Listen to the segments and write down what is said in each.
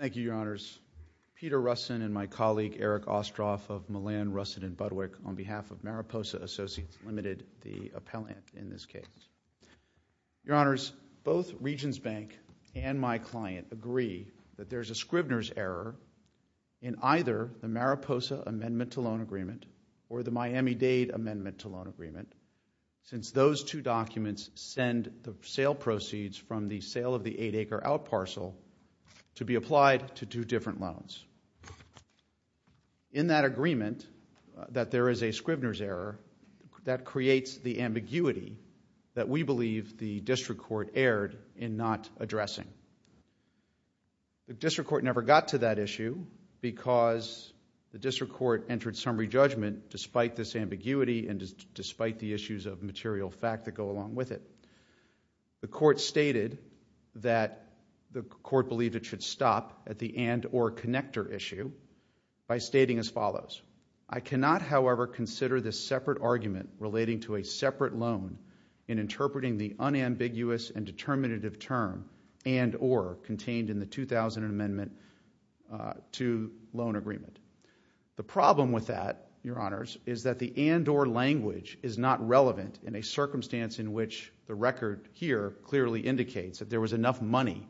Thank you, Your Honors. Peter Russin and my colleague Eric Ostroff of Millan, Russin & Budwick on behalf of Mariposa Associates, Ltd., the appellant in this case. Your Honors, both Regions Bank and my client agree that there is a Scribner's error in either the Mariposa Amendment to Loan Agreement or the Miami-Dade Amendment to Loan Agreement since those two documents send the sale proceeds from the sale of the 8-acre out parcel to be applied to two different loans. In that agreement that there is a Scribner's error, that creates the ambiguity that we believe the District Court erred in not addressing. The District Court never got to that issue because the District Court entered summary judgment despite this ambiguity and despite the issues of material fact that go along with it. The Court stated that the Court believed it should stop at the and-or connector issue by stating as follows, I cannot, however, consider this separate argument relating to a separate loan in interpreting the unambiguous and determinative term and-or contained in the 2000 Amendment to Loan Agreement. The problem with that, Your Honors, is that the record here clearly indicates that there was enough money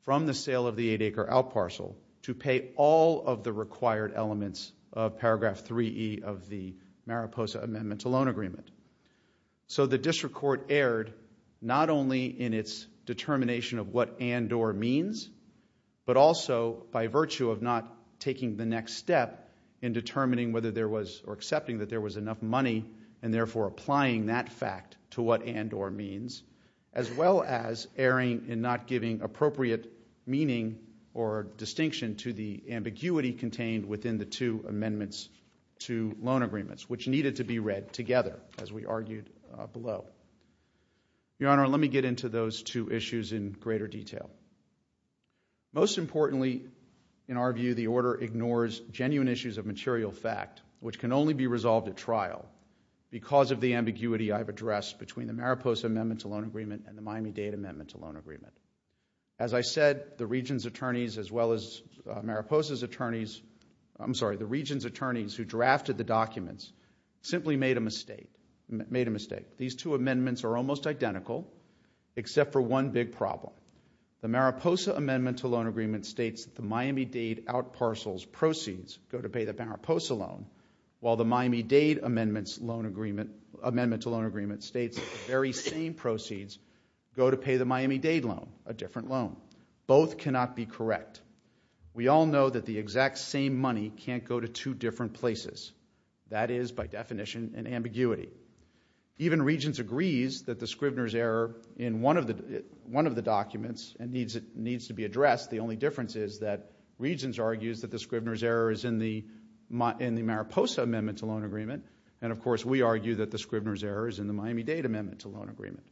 from the sale of the 8-acre out parcel to pay all of the required elements of Paragraph 3E of the Mariposa Amendment to Loan Agreement. The District Court erred not only in its determination of what and-or means but also by virtue of not taking the next step in determining whether there was or accepting that there was enough money and therefore applying that fact to what and-or means as well as erring in not giving appropriate meaning or distinction to the ambiguity contained within the two Amendments to Loan Agreements which needed to be read together as we argued below. Your Honor, let me get into those two issues in greater detail. Most importantly, in our view, the Order ignores genuine issues of material fact which can only be resolved at trial because of the ambiguity I have addressed between the Mariposa Amendment to Loan Agreement and the Miami-Dade Amendment to Loan Agreement. As I said, the Region's attorneys as well as Mariposa's attorneys, I'm sorry, the Region's attorneys who drafted the documents simply made a mistake, made a mistake. These two amendments are almost identical except for one big problem. The Mariposa Amendment to Loan Agreement states the Miami-Dade out parcels proceeds go to pay the Mariposa loan while the Miami-Dade Amendment to Loan Agreement states the very same proceeds go to pay the Miami-Dade loan, a different loan. Both cannot be correct. We all know that the exact same money can't go to two different places. That is by definition an ambiguity. Even Regions agrees that the Scrivner's error in one of the documents needs to be addressed. The only difference is that Regions argues that the Scrivner's error is in the Mariposa Amendment to Loan Agreement and of course we argue that the Scrivner's error is in the Miami-Dade Amendment to Loan Agreement.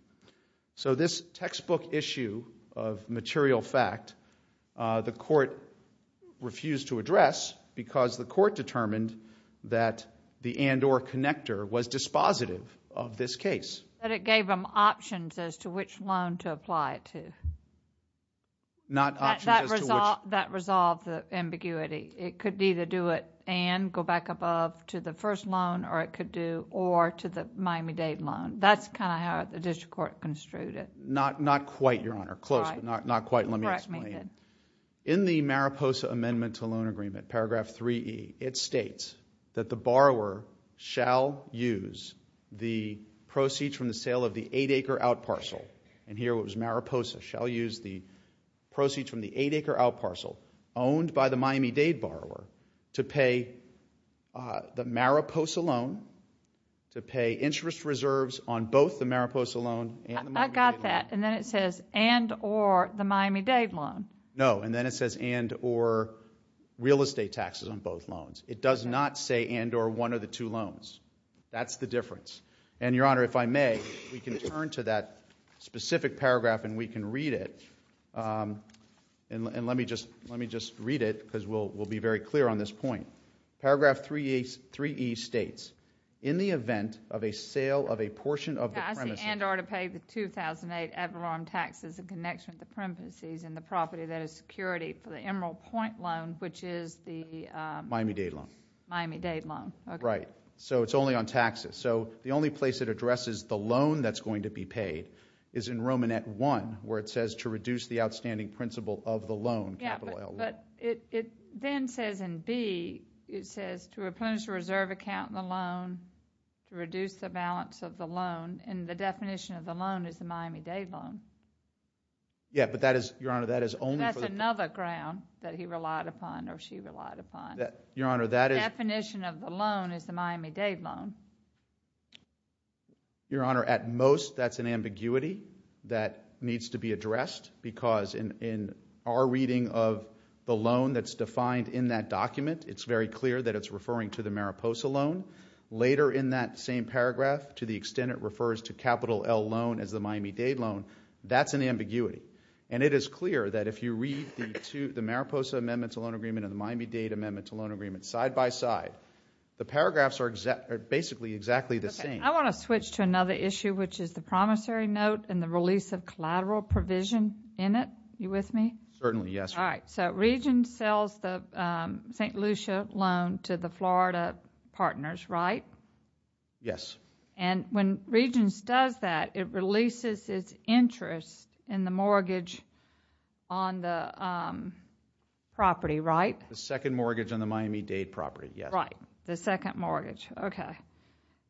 This textbook issue of material fact, the Court refused to address because the Court determined that the and or connector was dispositive of this case. But it gave them options as to which loan to apply it to. Not options as to which. That resolved the ambiguity. It could either do it and go back above to the first loan or it could do or to the Miami-Dade loan. That's kind of how the District Court construed it. Not quite, Your Honor. Close, but not quite. Let me explain. In the Mariposa Amendment to Loan Agreement, paragraph 3E, it states that the borrower shall use the proceeds from the sale of the 8-acre out parcel, and here it was Mariposa, shall use the proceeds from the 8-acre out parcel owned by the Miami-Dade borrower to pay the Mariposa loan, to pay interest reserves on both the Mariposa loan and the Miami-Dade loan. I got that. And then it says and or the Miami-Dade loan. No, and then it says and or real estate taxes on both loans. It does not say and or one of the two loans. That's the difference. And, Your Honor, if I may, we can turn to that specific paragraph and we can read it. And let me just read it because we'll be very clear on this point. Paragraph 3E states, in the event of a sale of a portion of the premises. I see and or to pay the 2008 Everarm taxes in connection with the premises and the property that is security for the Emerald Point loan, which is the Miami-Dade loan. Miami-Dade loan. Right. So it's only on taxes. So the only place it addresses the loan that's going to be paid is in Romanet 1, where it says to reduce the outstanding principal of the loan, capital loan. Yeah, but it then says in B, it says to replenish the reserve account in the loan, to reduce the balance of the loan, and the definition of the loan is the Miami-Dade loan. Yeah, but that is, Your Honor, that is only. That's another ground that he relied upon or she relied upon. Your Honor, that is. The definition of the loan is the Miami-Dade loan. Your Honor, at most, that's an ambiguity that needs to be addressed because in our reading of the loan that's defined in that document, it's very clear that it's referring to the Mariposa loan. Later in that same paragraph, to the extent it refers to capital L loan as the Miami-Dade loan, that's an ambiguity. And it is clear that if you read the Mariposa Amendment to Loan Agreement and the Miami-Dade Amendment to Loan Agreement side by side, the paragraphs are basically exactly the same. I want to switch to another issue, which is the promissory note and the release of collateral provision in it. Are you with me? Certainly, yes. All right. So Regence sells the St. Lucia loan to the Florida Partners, right? Yes. And when Regence does that, it releases its interest in the mortgage on the property, right? The second mortgage on the Miami-Dade property, yes. Right, the second mortgage. Okay.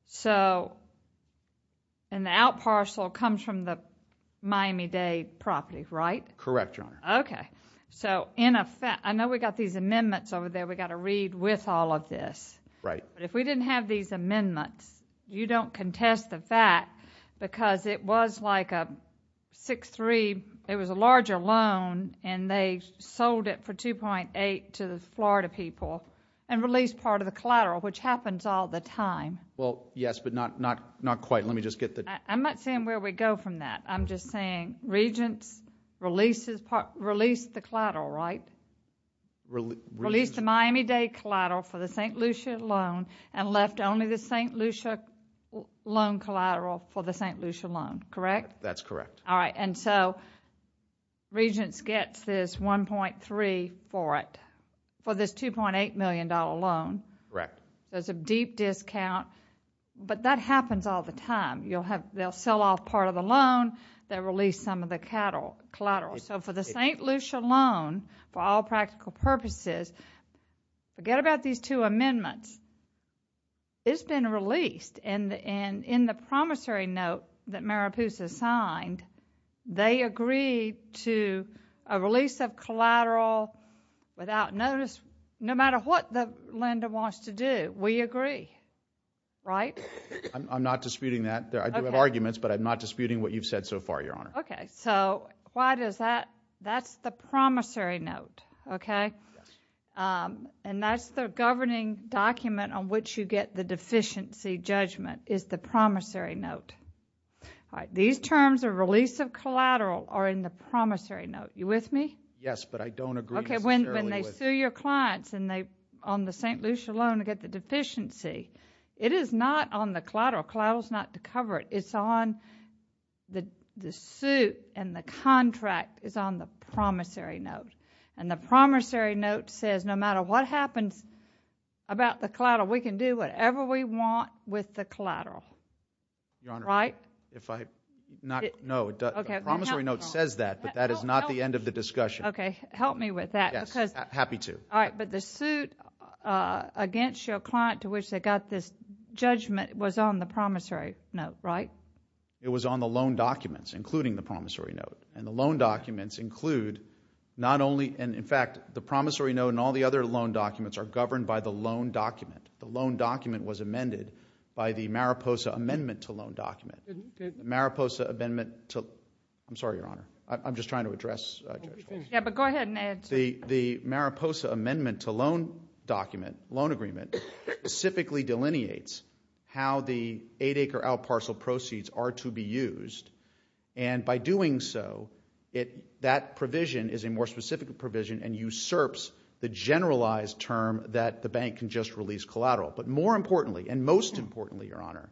So, and the out parcel comes from the Miami-Dade property, right? Correct, Your Honor. Okay. So, in effect, I know we've got these amendments over there we've got to read with all of this. Right. But if we didn't have these amendments, you don't contest the fact because it was like a 6-3, it was a larger loan and they sold it for 2.8 to the Florida people and released part of the collateral, which happens all the time. Well, yes, but not quite. Let me just get the... I'm not saying where we go from that. I'm just saying Regence released the collateral, right? Released the Miami-Dade collateral for the St. Lucia loan and left only the St. Lucia loan collateral for the St. Lucia loan, correct? That's correct. All right. And so Regence gets this 1.3 for it, for this $2.8 million loan. Correct. There's a deep discount, but that happens all the time. They'll sell off part of the loan, they'll release some of the collateral. So, for the St. Lucia loan, for all practical purposes, forget about these two amendments. It's been released and in the promissory note that Mariposa signed, they agreed to a release of collateral without notice, no matter what Linda wants to do. We agree, right? I'm not disputing that. I do have arguments, but I'm not disputing what you've said so far, Your Honor. Okay. So, why does that... That's the promissory note, okay? Yes. And that's the governing document on which you get the deficiency judgment, is the promissory note. All right. These terms of release of collateral are in the promissory note. You with me? Yes, but I don't agree necessarily with... Okay. When they sue your clients and they, on the St. Lucia loan, they get the deficiency. It is not on the collateral. Collateral's not to cover it. It's on... The suit and the contract is on the promissory note. And the promissory note says, no matter what happens about the collateral, we can do whatever we want with the collateral. Your Honor, if I... No, the promissory note says that, but that is not the end of the discussion. Okay. Help me with that because... Yes, happy to. All right. But the suit against your client to which they got this judgment was on the promissory note, right? It was on the loan documents, including the promissory note. And the loan documents include not only... And in fact, the promissory note and all the other loan documents are governed by the loan document. The loan document was amended by the Mariposa Amendment to Loan Document. The Mariposa Amendment to... I'm sorry, Your Honor. I'm just trying to address Judge Hall. Yeah, but go ahead and answer. The Mariposa Amendment to Loan Document, loan agreement, specifically delineates how the eight-acre out parcel proceeds are to be used. And by doing so, that provision is a more specific provision and usurps the generalized term that the bank can just release collateral. But more importantly, and most importantly, Your Honor,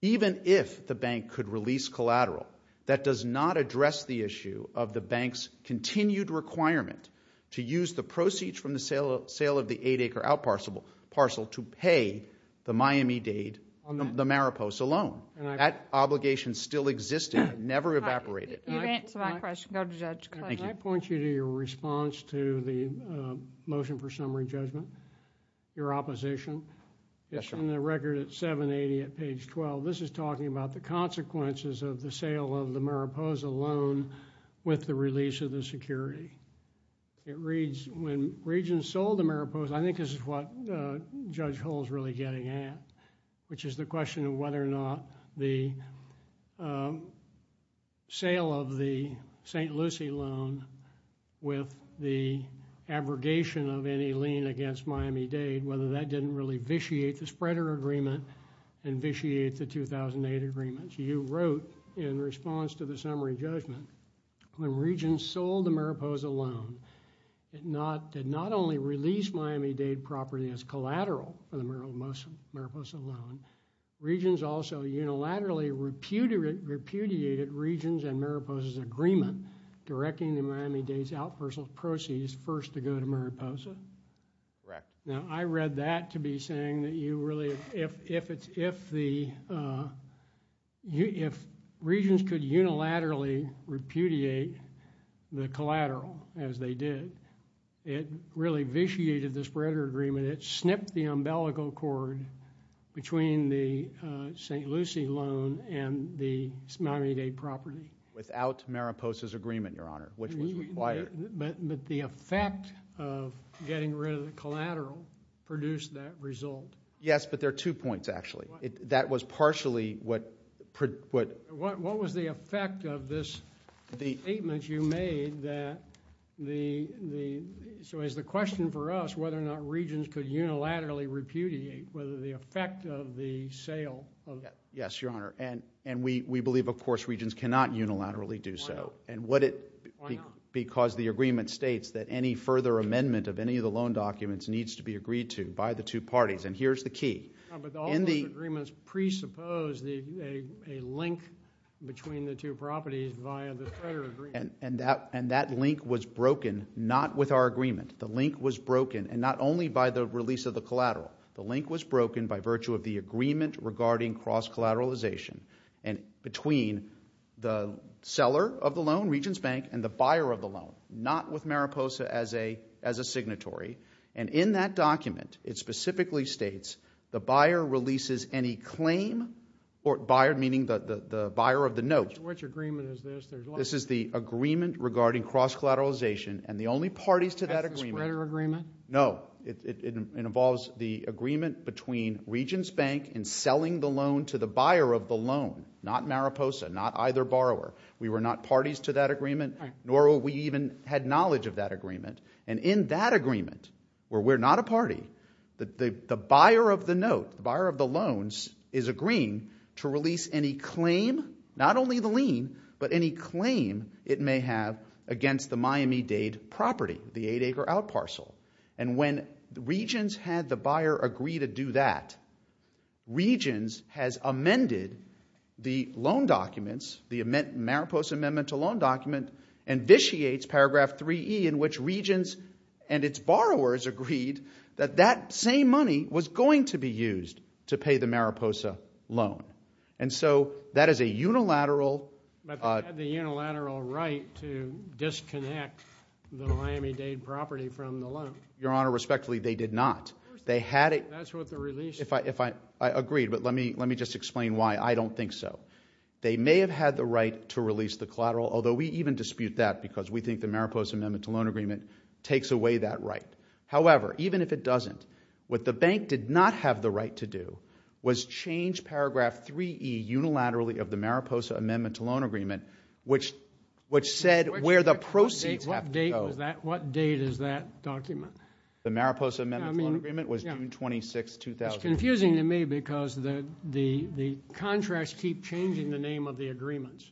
even if the bank could release collateral, that does not address the issue of the bank's continued requirement to use the proceeds from the sale of the eight-acre out parcel to pay the Miami-Dade, the Mariposa loan. That obligation still existed, never evaporated. You've answered my question. Go to Judge Clay. Thank you. Can I point you to your response to the motion for summary judgment, your opposition? Yes, Your Honor. In the record at 780 at page 12, this is talking about the consequences of the sale of the Mariposa with the release of the security. It reads, when Regents sold the Mariposa, I think this is what Judge Hall's really getting at, which is the question of whether or not the sale of the St. Lucie loan with the abrogation of any lien against Miami-Dade, whether that didn't really vitiate the spreader agreement and vitiate the 2008 agreement. You wrote, in response to the summary judgment, when Regents sold the Mariposa loan, it not only released Miami-Dade property as collateral for the Mariposa loan, Regents also unilaterally repudiated Regents and Mariposa's agreement directing the Miami-Dade's out parcel proceeds first to go to Mariposa. Correct. Now, I read that to be saying that if Regents could unilaterally repudiate the collateral as they did, it really vitiated the spreader agreement. It snipped the umbilical cord between the St. Lucie loan and the Miami-Dade property. Without Mariposa's agreement, Your Honor, which was required. But the effect of getting rid of the collateral produced that result. Yes, but there are two points, actually. That was partially what... What was the effect of this statement you made that the... So is the question for us whether or not Regents could unilaterally repudiate, whether the effect of the sale... Yes, Your Honor. And we believe, of course, Regents cannot unilaterally do so. Why not? And what it... Why not? Because the agreement states that any further amendment of any of the loan documents needs to be agreed to by the two parties. And here's the key. No, but all those agreements presuppose a link between the two properties via the spreader agreement. And that link was broken not with our agreement. The link was broken, and not only by the release of the collateral. The link was broken by virtue of the agreement regarding cross-collateralization and between the seller of the loan, Regents Bank, and the buyer of the loan, not with Mariposa as a signatory. And in that document, it specifically states the buyer releases any claim or buyer, meaning the buyer of the note. Which agreement is this? This is the agreement regarding cross-collateralization, and the only parties to that agreement... That's the spreader agreement? No. It involves the agreement between Regents Bank in selling the loan to the buyer of the loan, not Mariposa, not either borrower. We were not parties to that agreement, nor we even had knowledge of that agreement. And in that agreement, where we're not a party, the buyer of the note, the buyer of the loans, is agreeing to release any claim, not only the lien, but any claim it may have against the Miami-Dade property, the eight-acre out parcel. And when Regents had the buyer agree to do that, Regents has amended the loan documents, the Mariposa amendment to loan document, and vitiates paragraph 3E in which Regents and its borrowers agreed that that same money was going to be used to pay the Mariposa loan. And so that is a unilateral... Your Honor, respectfully, they did not. They had it... That's what the release... If I... I agreed, but let me just explain why I don't think so. They may have had the right to release the collateral, although we even dispute that because we think the Mariposa amendment to loan agreement takes away that right. However, even if it doesn't, what the bank did not have the right to do was change paragraph 3E unilaterally of the Mariposa amendment to loan agreement, which said where the proceeds have to go... The Mariposa amendment to loan agreement was June 26, 2000. It's confusing to me because the contracts keep changing the name of the agreements.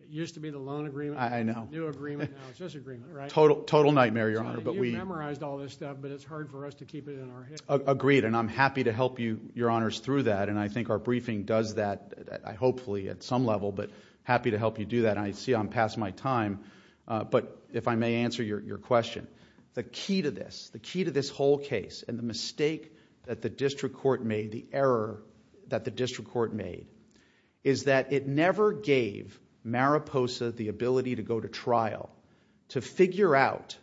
It used to be the loan agreement. I know. New agreement, now it's this agreement, right? Total nightmare, Your Honor, but we... You've memorized all this stuff, but it's hard for us to keep it in our head. Agreed, and I'm happy to help you, Your Honors, through that, and I think our briefing does that, hopefully, at some level, but happy to help you do that. I see I'm past my time, but if I may answer your question, the key to this, the key to this whole case, and the mistake that the district court made, the error that the district court made, is that it never gave Mariposa the ability to go to trial to figure out,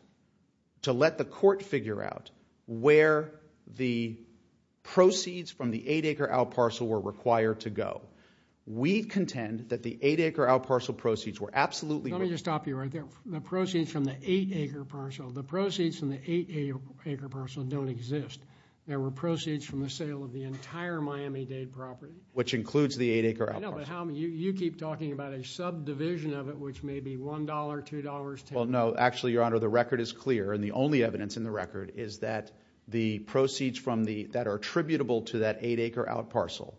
to let the court figure out where the proceeds from the 8-acre out parcel were required to go. We contend that the 8-acre out parcel proceeds were absolutely... Let me just stop you right there. The proceeds from the 8-acre parcel, the proceeds from the 8-acre parcel don't exist. There were proceeds from the sale of the entire Miami-Dade property. Which includes the 8-acre out parcel. I know, but how many, you keep talking about a subdivision of it, which may be $1, $2, $10. Well, no, actually, Your Honor, the record is clear, and the only evidence in the record is that the proceeds from the, that are attributable to that 8-acre out parcel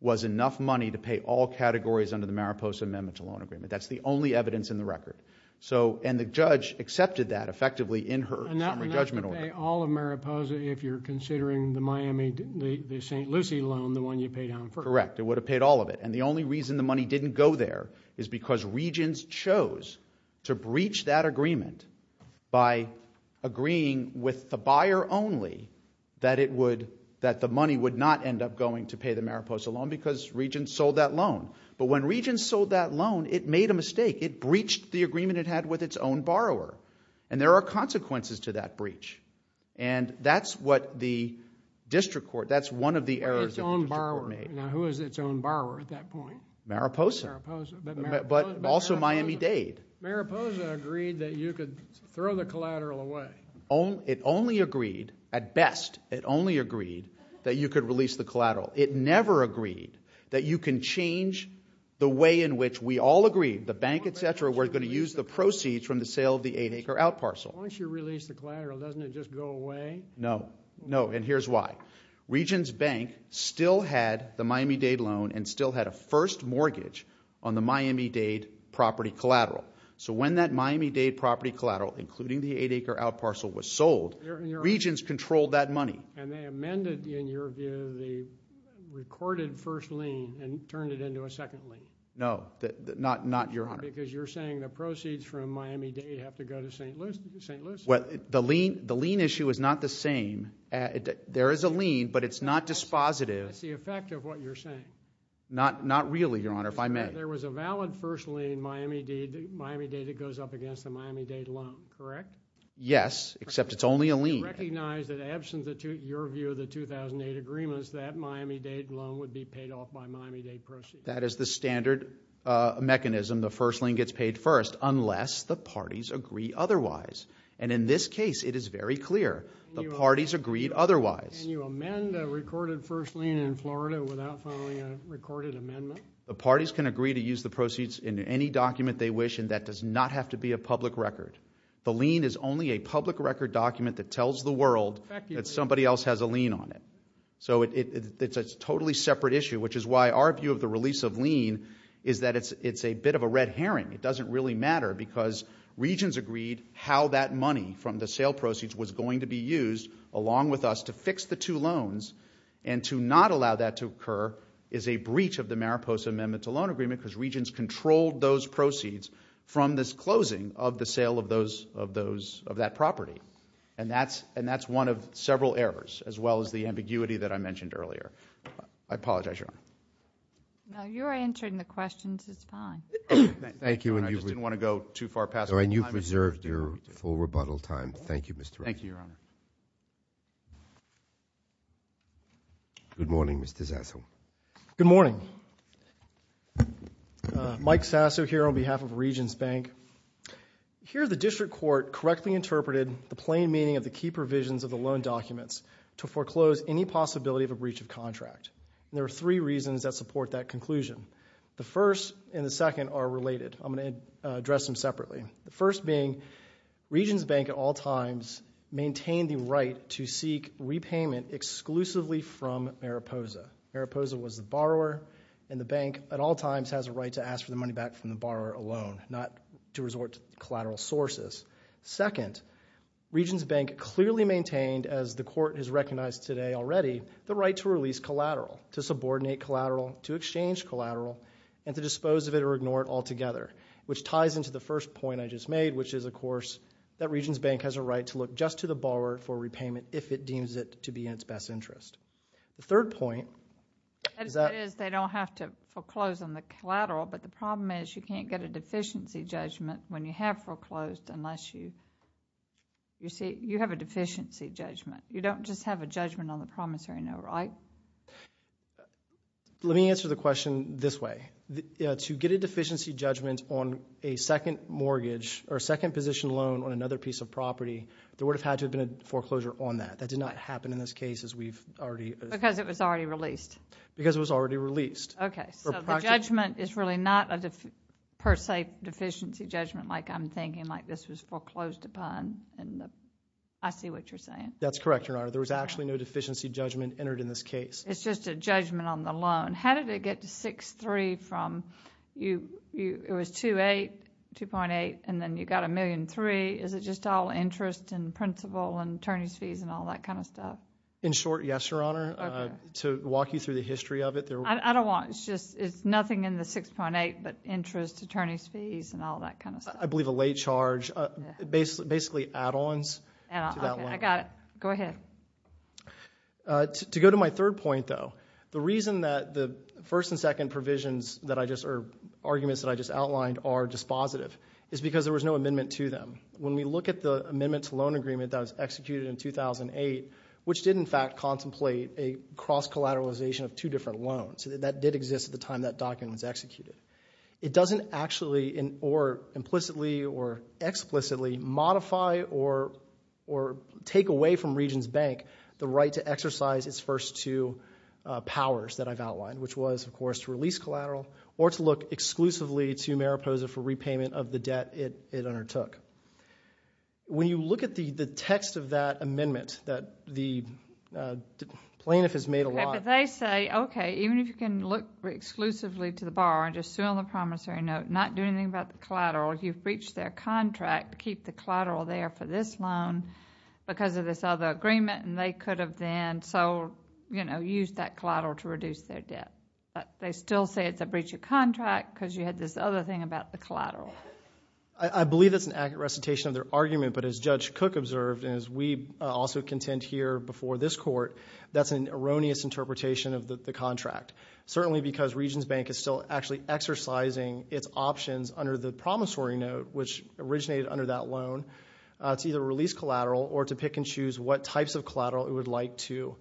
was enough money to pay all categories under the Mariposa Amendment to Loan Agreement. That's the only evidence in the record. So, and the judge accepted that, effectively, in her summary judgment order. And that would pay all of Mariposa if you're considering the Miami, the St. Lucie loan, the one you paid on first. Correct. It would have paid all of it. And the only reason the money didn't go there is because Regents chose to breach that agreement by agreeing with the buyer only that it would, that the money would not end up going to pay Mariposa loan because Regents sold that loan. But when Regents sold that loan, it made a mistake. It breached the agreement it had with its own borrower. And there are consequences to that breach. And that's what the district court, that's one of the errors that the district court made. Now, who is its own borrower at that point? Mariposa. Mariposa. But also Miami-Dade. Mariposa agreed that you could throw the collateral away. It only agreed, at best, it only agreed that you could release the collateral. It never agreed that you can change the way in which we all agreed, the bank, etc., we're going to use the proceeds from the sale of the eight-acre out parcel. Once you release the collateral, doesn't it just go away? No. No. And here's why. Regents Bank still had the Miami-Dade loan and still had a first mortgage on the Miami-Dade property collateral. So when that Miami-Dade property collateral, including the eight-acre out parcel, was sold, Regents controlled that money. And they amended, in your view, the recorded first lien and turned it into a second lien? No. Not, Your Honor. Because you're saying the proceeds from Miami-Dade have to go to St. Lucie. Well, the lien issue is not the same. There is a lien, but it's not dispositive. That's the effect of what you're saying. Not really, Your Honor, if I may. There was a valid first lien, Miami-Dade, that goes up against the Miami-Dade loan, correct? Yes, except it's only a lien. Recognize that, absent your view of the 2008 agreements, that Miami-Dade loan would be paid off by Miami-Dade proceeds. That is the standard mechanism. The first lien gets paid first, unless the parties agree otherwise. And in this case, it is very clear. The parties agreed otherwise. Can you amend the recorded first lien in Florida without following a recorded amendment? The parties can agree to use the proceeds in any document they wish, and that does not have to be a public record. The lien is only a public record document that tells the world that somebody else has a lien on it. So it's a totally separate issue, which is why our view of the release of lien is that it's a bit of a red herring. It doesn't really matter because Regents agreed how that money from the sale proceeds was going to be used, along with us, to fix the two loans. And to not allow that to occur is a breach of the Mariposa Amendment to Loan Agreement because Regents controlled those proceeds from this closing of the sale of that property. And that's one of several errors, as well as the ambiguity that I mentioned earlier. I apologize, Your Honor. No, you're answering the questions. It's fine. Thank you. And I just didn't want to go too far past the time. And you've reserved your full rebuttal time. Thank you, Mr. Wright. Thank you, Your Honor. Good morning, Mr. Zasso. Good morning. Mike Zasso here on behalf of Regents Bank. Here, the District Court correctly interpreted the plain meaning of the key provisions of the loan documents to foreclose any possibility of a breach of contract. There are three reasons that support that conclusion. The first and the second are related. I'm going to address them separately. The first being Regents Bank, at all times, maintained the right to seek repayment exclusively from Mariposa. Mariposa was the borrower. And the bank, at all times, has a right to ask for the money back from the borrower alone, not to resort to collateral sources. Second, Regents Bank clearly maintained, as the Court has recognized today already, the right to release collateral, to subordinate collateral, to exchange collateral, and to dispose of it or ignore it altogether, which ties into the first point I just made, which is, of course, that Regents Bank has a right to look just to the borrower for repayment if it deems it to be in its best interest. The third point is that— That is, they don't have to foreclose on the collateral, but the problem is you can't get a deficiency judgment when you have foreclosed unless you—you have a deficiency judgment. You don't just have a judgment on the promissory note, right? Let me answer the question this way. To get a deficiency judgment on a second mortgage or a second position loan on another piece of property, there would have had to have been a foreclosure on that. That did not happen in this case, as we've already— Because it was already released. Because it was already released. Okay, so the judgment is really not a per se deficiency judgment like I'm thinking, like this was foreclosed upon in the—I see what you're saying. That's correct, Your Honor. There was actually no deficiency judgment entered in this case. It's just a judgment on the loan. How did it get to 6-3 from—it was 2-8, 2.8, and then you got a million-3. Is it just all interest and principal and attorney's fees and all that kind of stuff? In short, yes, Your Honor. Okay. To walk you through the history of it, there— I don't want—it's just—it's nothing in the 6.8, but interest, attorney's fees, and all that kind of stuff. I believe a late charge. Basically add-ons to that loan. I got it. Go ahead. To go to my third point, though, the reason that the first and second provisions that I just—or arguments that I just outlined are dispositive is because there was no amendment to them. When we look at the amendment to loan agreement that was executed in 2008, which did, in fact, contemplate a cross-collateralization of two different loans. That did exist at the time that document was executed. It doesn't actually or implicitly or explicitly modify or take away from Regions Bank the right to exercise its first two powers that I've outlined, which was, of course, to release When you look at the text of that amendment that the plaintiff has made a lot— Okay. But they say, okay, even if you can look exclusively to the borrower and just sue on the promissory note, not do anything about the collateral, you've breached their contract, keep the collateral there for this loan because of this other agreement, and they could have then—so, you know, used that collateral to reduce their debt. But they still say it's a breach of contract because you had this other thing about the collateral. I believe that's an accurate recitation of their argument, but as Judge Cook observed, and as we also contend here before this court, that's an erroneous interpretation of the contract, certainly because Regions Bank is still actually exercising its options under the promissory note, which originated under that loan to either release collateral or to pick and choose what types of collateral it would like to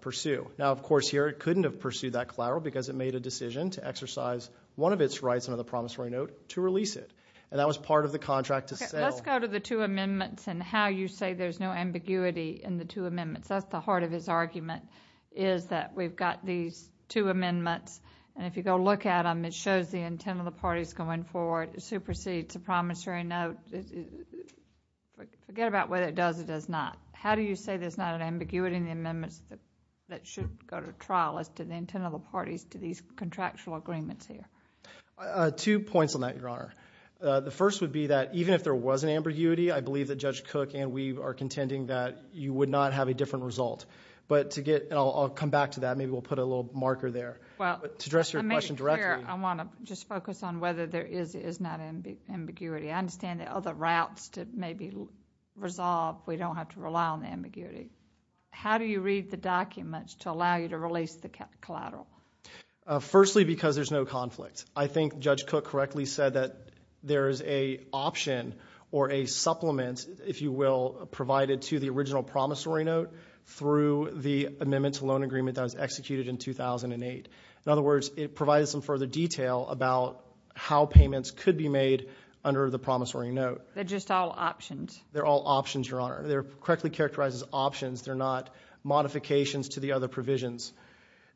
pursue. Now, of course, here it couldn't have pursued that collateral because it made a decision to exercise one of its rights under the promissory note to release it. And that was part of the contract to sell— Okay. Let's go to the two amendments and how you say there's no ambiguity in the two amendments. That's the heart of his argument, is that we've got these two amendments, and if you go look at them, it shows the intent of the parties going forward. It supersedes the promissory note. Forget about whether it does or does not. How do you say there's not an ambiguity in the amendments that should go to trial as to the intent of the parties to these contractual agreements here? Two points on that, Your Honor. The first would be that even if there was an ambiguity, I believe that Judge Cook and we are contending that you would not have a different result. But to get—and I'll come back to that. Maybe we'll put a little marker there to address your question directly. I want to just focus on whether there is or is not ambiguity. I understand that other routes to maybe resolve, we don't have to rely on the ambiguity. How do you read the documents to allow you to release the collateral? Firstly, because there's no conflict. I think Judge Cook correctly said that there is an option or a supplement, if you will, provided to the original promissory note through the amendment to loan agreement that was executed in 2008. In other words, it provides some further detail about how payments could be made under the promissory note. They're just all options? They're all options, Your Honor. They're correctly characterized as options. They're not modifications to the other provisions.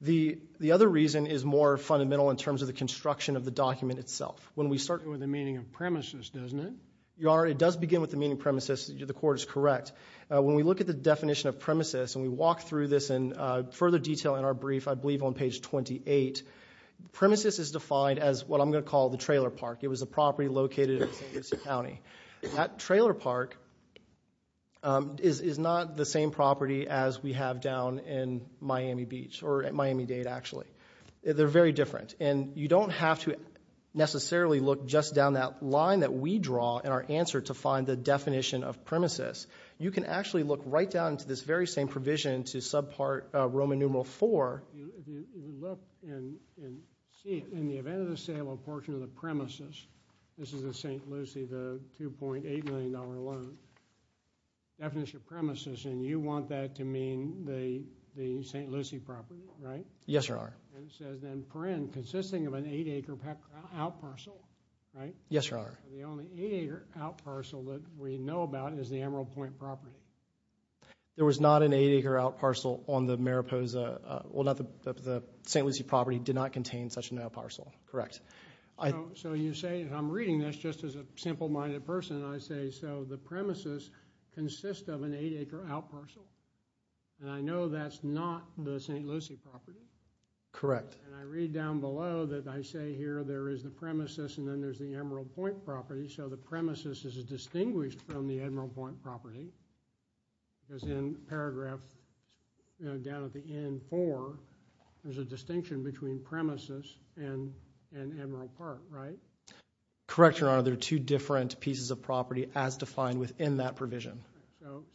The other reason is more fundamental in terms of the construction of the document itself. When we start with the meaning of premises, doesn't it? Your Honor, it does begin with the meaning of premises. The court is correct. When we look at the definition of premises, and we walk through this in further detail in our brief, I believe on page 28, premises is defined as what I'm going to call the trailer park. It was a property located in St. Lucie County. That trailer park is not the same property as we have down in Miami Beach, or at Miami Dade, actually. They're very different. And you don't have to necessarily look just down that line that we draw in our answer to find the definition of premises. You can actually look right down to this very same provision to subpart Roman numeral 4. If you look and see, in the event of the sale of a portion of the premises, this is in St. Lucie, the $2.8 million loan, definition of premises, and you want that to mean the St. Lucie property, right? Yes, Your Honor. And it says, then, per in, consisting of an 8-acre out parcel, right? Yes, Your Honor. The only 8-acre out parcel that we know about is the Emerald Point property. There was not an 8-acre out parcel on the Mariposa, well, not the St. Lucie property, did not contain such an out parcel, correct? So you say, and I'm reading this just as a simple-minded person, and I say, so the premises consist of an 8-acre out parcel. And I know that's not the St. Lucie property. Correct. And I read down below that I say here there is the premises, and then there's the Emerald Point property. So the premises is distinguished from the Emerald Point property, because in paragraph down at the end, 4, there's a distinction between premises and Emerald Park, right? Correct, Your Honor. They're two different pieces of property as defined within that provision.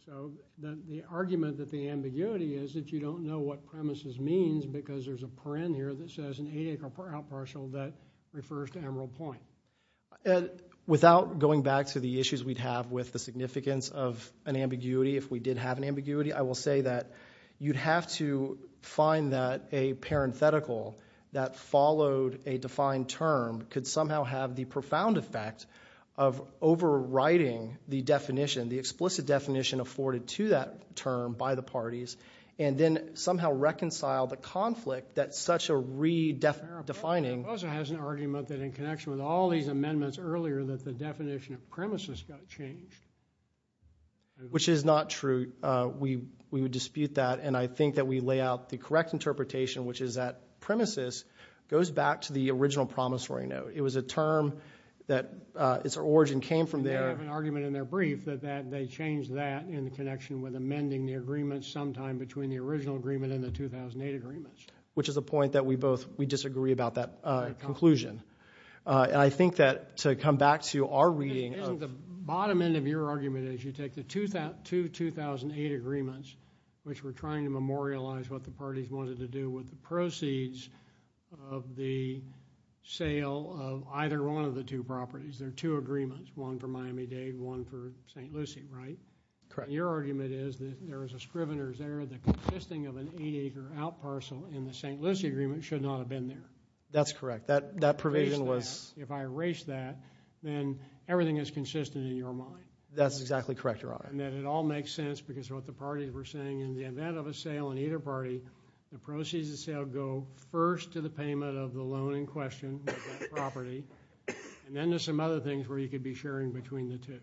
So the argument that the ambiguity is that you don't know what premises means because there's a per in here that says an 8-acre out parcel that refers to Emerald Point. Without going back to the issues we'd have with the significance of an ambiguity, if we did have an ambiguity, I will say that you'd have to find that a parenthetical that followed a defined term could somehow have the profound effect of overriding the definition, the explicit definition afforded to that term by the parties, and then somehow reconcile the conflict that such a redefining. It also has an argument that in connection with all these amendments earlier that the definition of premises got changed. Which is not true. We would dispute that, and I think that we lay out the correct interpretation, which is that premises goes back to the original promissory note. It was a term that its origin came from there. And they have an argument in their brief that they changed that in connection with amending the agreement sometime between the original agreement and the 2008 agreement. Which is a point that we both, we disagree about that conclusion. And I think that to come back to our reading of. Bottom end of your argument is you take the two 2008 agreements, which were trying to memorialize what the parties wanted to do with the proceeds of the sale of either one of the two properties. There are two agreements. One for Miami-Dade, one for St. Lucie, right? Correct. Your argument is that there is a Scrivener's error that consisting of an eight-acre out parcel in the St. Lucie agreement should not have been there. That's correct. That provision was. If I erase that, then everything is consistent in your mind. That's exactly correct, Your Honor. And that it all makes sense because of what the parties were saying. In the event of a sale in either party, the proceeds of the sale go first to the payment of the loan in question of that property. And then there's some other things where you could be sharing between the two.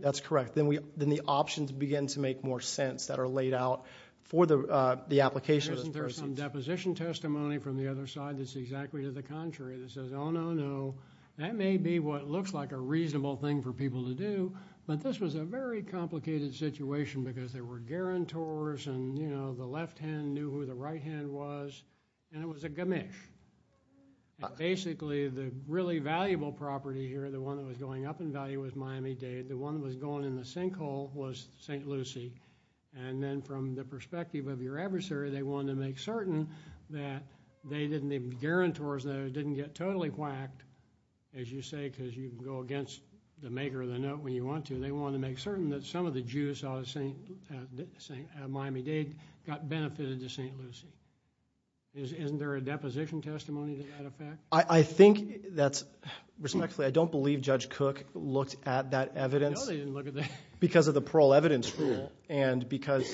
That's correct. Then the options begin to make more sense that are laid out for the application. There's some deposition testimony from the other side that's exactly to the contrary. That says, oh, no, no. That may be what looks like a reasonable thing for people to do. But this was a very complicated situation because there were guarantors and, you know, the left hand knew who the right hand was, and it was a gamish. Basically, the really valuable property here, the one that was going up in value was Miami-Dade. The one that was going in the sinkhole was St. Lucie. And then from the perspective of your adversary, they wanted to make certain that they didn't, the guarantors there didn't get totally whacked, as you say, because you can go against the maker of the note when you want to. They wanted to make certain that some of the Jews out of Miami-Dade got benefited to St. Lucie. Isn't there a deposition testimony to that effect? I think that's, respectfully, I don't believe Judge Cook looked at that evidence. No, they didn't look at that. Because of the parole evidence rule. And because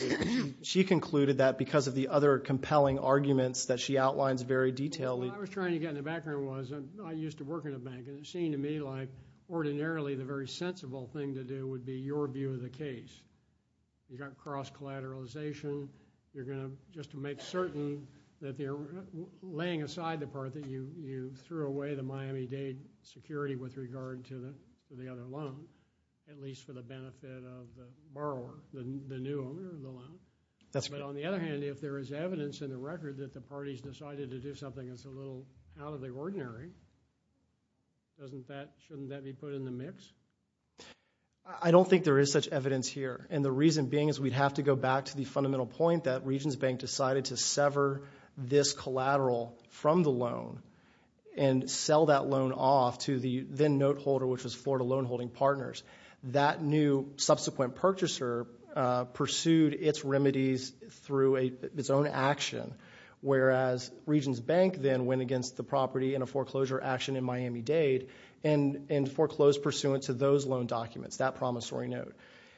she concluded that because of the other compelling arguments that she outlines very detailedly. What I was trying to get in the background was, I used to work in a bank, and it seemed to me like ordinarily the very sensible thing to do would be your view of the case. You've got cross-collateralization, you're going to, just to make certain that they're laying aside the part that you threw away the Miami-Dade security with regard to the other loan, at least for the benefit of the borrower, the new owner of the loan. But on the other hand, if there is evidence in the record that the parties decided to do something that's a little out of the ordinary, shouldn't that be put in the mix? I don't think there is such evidence here. And the reason being is we'd have to go back to the fundamental point that Regions Bank decided to sever this collateral from the loan and sell that loan off to the then-noteholder, which was Florida Loan Holding Partners. That new subsequent purchaser pursued its remedies through its own action, whereas Regions Bank then went against the property in a foreclosure action in Miami-Dade and foreclosed pursuant to those loan documents, that promissory note.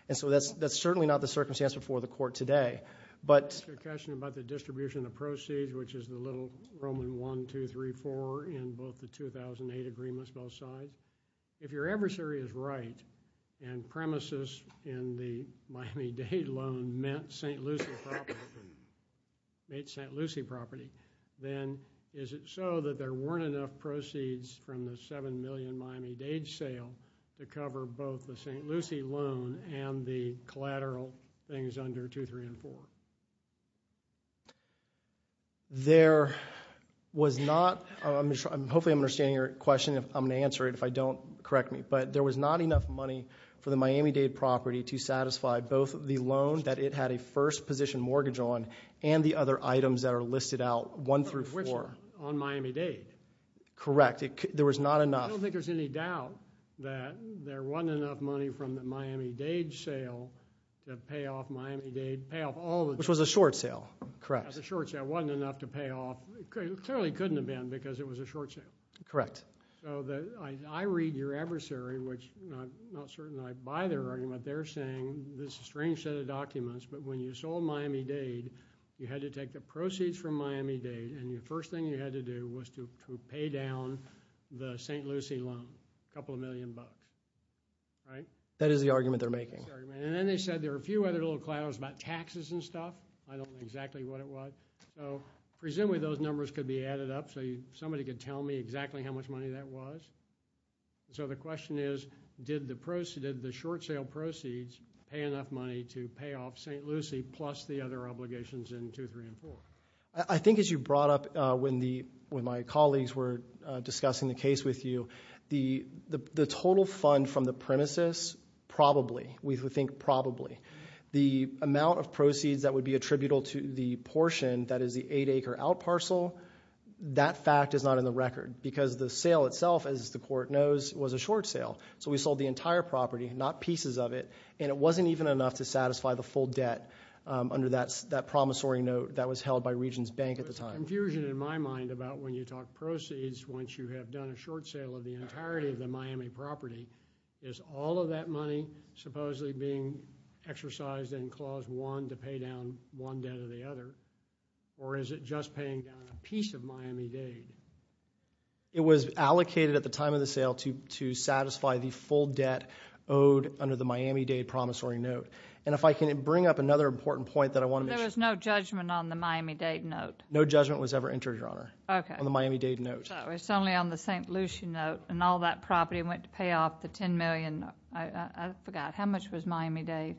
And so that's certainly not the circumstance before the court today. But— Your question about the distribution of proceeds, which is the little Roman 1, 2, 3, 4, in both the 2008 agreements, both sides. If your adversary is right and premises in the Miami-Dade loan meant St. Lucie property, then is it so that there weren't enough proceeds from the $7 million Miami-Dade sale to cover both the St. Lucie loan and the collateral things under 2, 3, and 4? There was not—hopefully I'm understanding your question. I'm going to answer it. If I don't, correct me. But there was not enough money for the Miami-Dade property to satisfy both the loan that it had a first-position mortgage on and the other items that are listed out 1 through 4. Which are on Miami-Dade. Correct. There was not enough— I don't think there's any doubt that there wasn't enough money from the Miami-Dade sale to pay off Miami-Dade, pay off all the— Which was a short sale. Correct. A short sale. Wasn't enough to pay off—clearly couldn't have been because it was a short sale. Correct. So I read your adversary, which I'm not certain I buy their argument. They're saying this strange set of documents. But when you sold Miami-Dade, you had to take the proceeds from Miami-Dade, and the first thing you had to do was to pay down the St. Lucie loan, a couple of million bucks. Right? That is the argument they're making. And then they said there were a few other little clouds about taxes and stuff. I don't know exactly what it was. So presumably those numbers could be added up, so somebody could tell me exactly how much money that was. So the question is, did the short sale proceeds pay enough money to pay off St. Lucie plus the other obligations in 2, 3, and 4? I think as you brought up when my colleagues were discussing the case with you, the total fund from the premises, probably. We think probably. The amount of proceeds that would be attributable to the portion that is the 8-acre out parcel, that fact is not in the record. Because the sale itself, as the court knows, was a short sale. So we sold the entire property, not pieces of it. And it wasn't even enough to satisfy the full debt under that promissory note that was held by Regions Bank at the time. There's confusion in my mind about when you talk proceeds, once you have done a short sale of the entirety of the Miami property, is all of that money supposedly being exercised in Clause 1 to pay down one debt or the other? Or is it just paying down a piece of Miami-Dade? It was allocated at the time of the sale to satisfy the full debt owed under the Miami-Dade promissory note. And if I can bring up another important point that I want to make. There was no judgment on the Miami-Dade note? No judgment was ever entered, Your Honor, on the Miami-Dade note. It's only on the St. Lucie note. And all that property went to pay off the $10 million. I forgot. How much was Miami-Dade?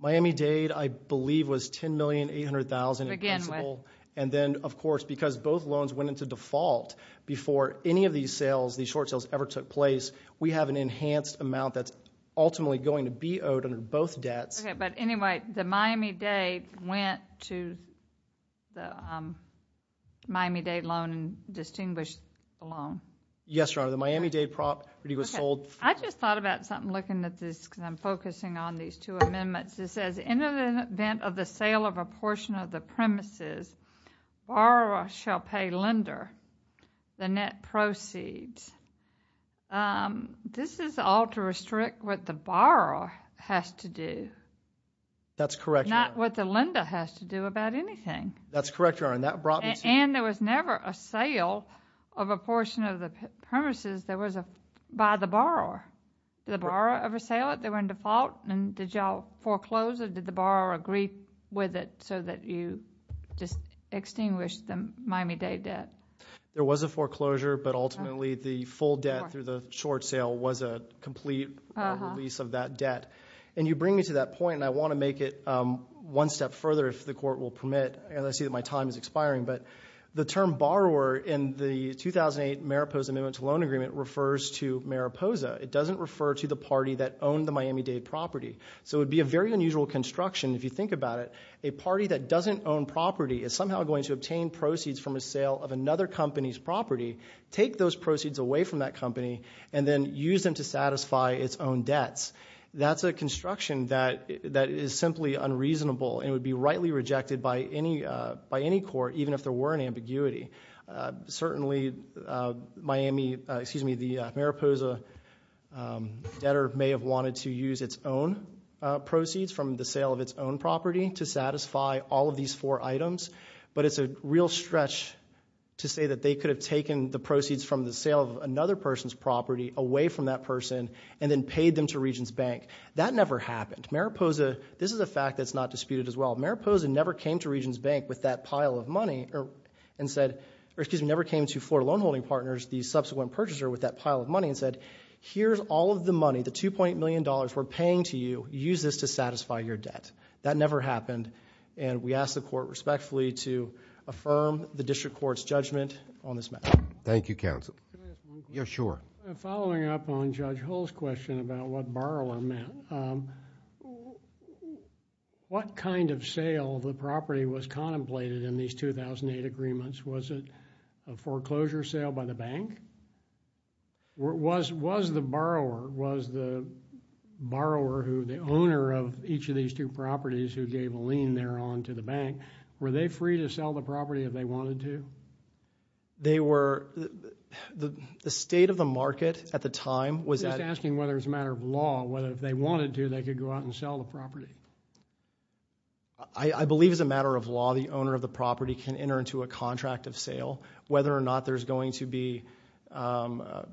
Miami-Dade, I believe, was $10,800,000 in principal. And then, of course, because both loans went into default before any of these sales, these short sales, ever took place, we have an enhanced amount that's ultimately going to be owed under both debts. But anyway, the Miami-Dade went to the Miami-Dade loan distinguished loan. Yes, Your Honor. The Miami-Dade property was sold. I just thought about something looking at this because I'm focusing on these two amendments. It says, in the event of the sale of a portion of the premises, borrower shall pay lender the net proceeds. This is all to restrict what the borrower has to do. That's correct, Your Honor. Not what the lender has to do about anything. That's correct, Your Honor. And there was never a sale of a portion of the premises by the borrower. Did the borrower ever sale it? They were in default. And did y'all foreclose it? Did the borrower agree with it so that you just extinguished the Miami-Dade debt? There was a foreclosure, but ultimately, the full debt through the short sale was a complete release of that debt. And you bring me to that point, and I want to make it one step further, if the court will permit, and I see that my time is expiring, but the term borrower in the 2008 Mariposa Amendment to Loan Agreement refers to Mariposa. It doesn't refer to the party that owned the Miami-Dade property. So it would be a very unusual construction if you think about it. A party that doesn't own property is somehow going to obtain proceeds from a sale of another company's property, take those proceeds away from that company, and then use them to satisfy its own debts. That's a construction that is simply unreasonable, and it would be rightly rejected by any court, even if there were an ambiguity. Certainly, the Mariposa debtor may have wanted to use its own proceeds from the sale of its own property to satisfy all of these four items. But it's a real stretch to say that they could have taken the proceeds from the sale of another person's property away from that person, and then paid them to Regents Bank. That never happened. This is a fact that's not disputed as well. Mariposa never came to Regents Bank with that pile of money, and said, or excuse me, never came to Florida Loan Holding Partners, the subsequent purchaser, with that pile of money, and said, here's all of the money, the $2.8 million we're paying to you, use this to satisfy your debt. That never happened, and we ask the court respectfully to affirm the district court's judgment on this matter. Thank you, counsel. Yeah, sure. Following up on Judge Hull's question about what borrower meant, what kind of sale the property was contemplated in these 2008 agreements? Was it a foreclosure sale by the bank? Was the borrower, was the borrower who, the owner of each of these two properties, who gave a lien thereon to the bank, were they free to sell the property if they wanted to? They were, the state of the market at the time was that- I'm just asking whether it's a matter of law, whether if they wanted to, they could go out and sell the property. I believe it's a matter of law. The owner of the property can enter into a contract of sale, whether or not there's going to be an adverse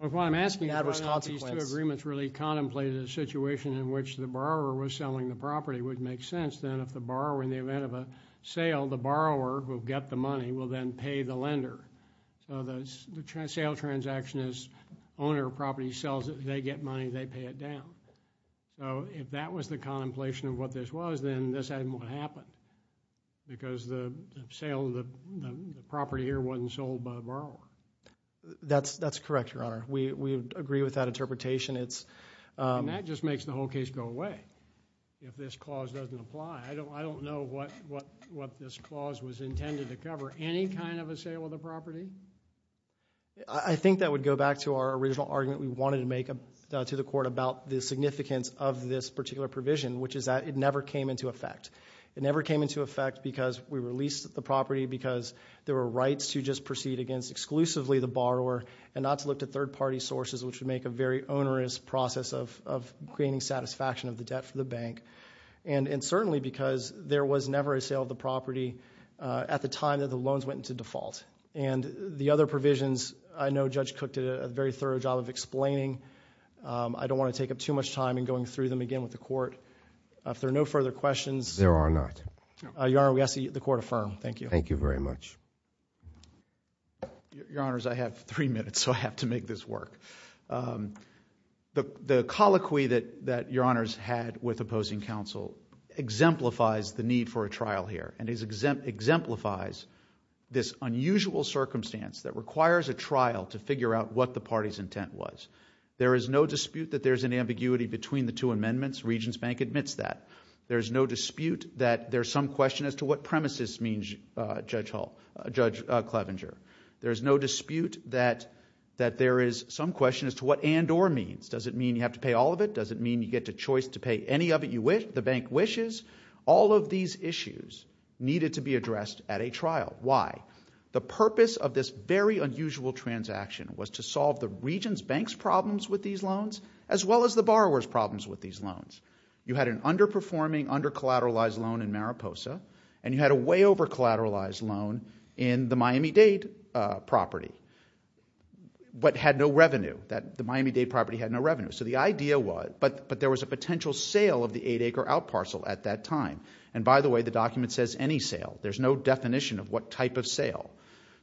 consequence. What I'm asking about these two agreements really contemplated a situation in which the borrower was selling the property would make sense, then if the borrower, in the event of a sale, the borrower will get the money, will then pay the lender. So the sale transaction is, owner of property sells it, they get money, they pay it down. If that was the contemplation of what this was, then this hadn't happened, because the sale of the property here wasn't sold by the borrower. That's correct, Your Honor. We agree with that interpretation. That just makes the whole case go away. If this clause doesn't apply, I don't know what this clause was intended to cover. Any kind of a sale of the property? I think that would go back to our original argument we wanted to make to the Court about the significance of this particular provision, which is that it never came into effect. It never came into effect because we released the property, because there were rights to just proceed against exclusively the borrower, and not to look to third-party sources, which would make a very onerous process of creating satisfaction of the debt for the bank. And certainly because there was never a sale of the property at the time that the loans went into default. And the other provisions, I know Judge Cook did a very thorough job of explaining. I don't want to take up too much time in going through them again with the Court. If there are no further questions... There are not. Your Honor, we ask that the Court affirm. Thank you. Thank you very much. Your Honors, I have three minutes, so I have to make this work. The colloquy that Your Honors had with opposing counsel exemplifies the need for a trial here, and exemplifies this unusual circumstance that requires a trial to figure out what the party's intent was. There is no dispute that there's an ambiguity between the two amendments. Regents Bank admits that. There's no dispute that there's some question as to what premises means Judge Clevenger. There's no dispute that there is some question as to what and or means. Does it mean you have to pay all of it? Does it mean you get the choice to pay any of it the bank wishes? All of these issues needed to be addressed at a trial. Why? The purpose of this very unusual transaction was to solve the Regents Bank's problems with these loans, as well as the borrower's problems with these loans. You had an underperforming, under-collateralized loan in Mariposa, and you had a way over-collateralized loan in the Miami-Dade property, but had no revenue. The Miami-Dade property had no revenue. So the idea was... And by the way, the document says any sale. There's no definition of what type of sale.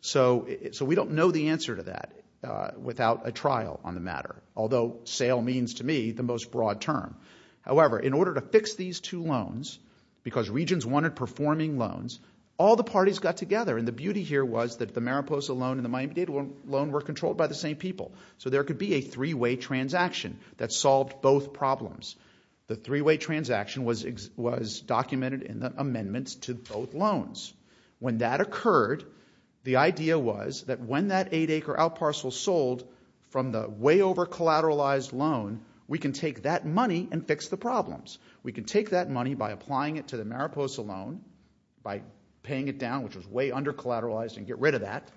So we don't know the answer to that without a trial on the matter, although sale means to me the most broad term. However, in order to fix these two loans, because Regents wanted performing loans, all the parties got together, and the beauty here was that the Mariposa loan and the Miami-Dade loan were controlled by the same people. So there could be a three-way transaction that solved both problems. The three-way transaction was documented in the amendments to both loans. When that occurred, the idea was that when that eight-acre out parcel sold from the way over-collateralized loan, we can take that money and fix the problems. We can take that money by applying it to the Mariposa loan by paying it down, which was way under-collateralized, and get rid of that.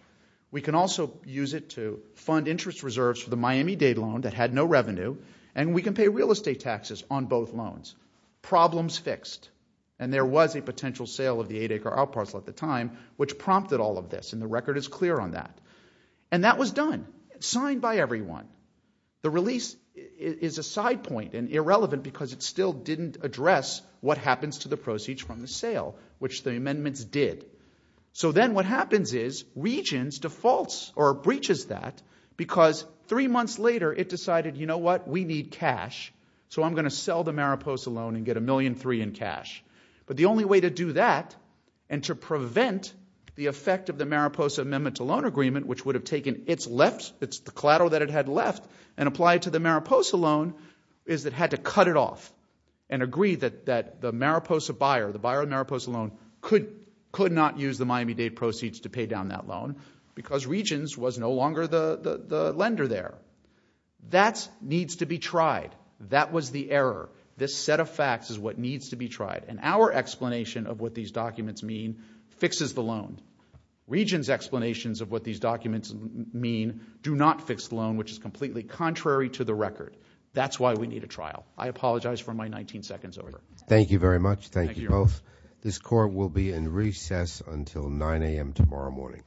We can also use it to fund interest reserves for the Miami-Dade loan that had no revenue, and we can pay real estate taxes on both loans. Problems fixed, and there was a potential sale of the eight-acre out parcel at the time, which prompted all of this, and the record is clear on that. And that was done. Signed by everyone. The release is a side point and irrelevant because it still didn't address what happens to the proceeds from the sale, which the amendments did. So then what happens is Regents defaults or breaches that because three months later it decided, you know what, we need cash, so I'm going to sell the Mariposa loan and get a million three in cash. But the only way to do that and to prevent the effect of the Mariposa Amendment to Loan Agreement, which would have taken its left, it's the collateral that it had left, and applied to the Mariposa loan, is it had to cut it off and agree that the Mariposa buyer, the buyer of Mariposa loan could not use the Miami-Dade proceeds to pay down that loan because Regents was no longer the lender there. That needs to be tried. That was the error. This set of facts is what needs to be tried. And our explanation of what these documents mean fixes the loan. Regents explanations of what these documents mean do not fix the loan, which is completely contrary to the record. That's why we need a trial. I apologize for my 19 seconds over there. Thank you very much. Thank you both. This court will be in recess until 9 a.m. tomorrow morning.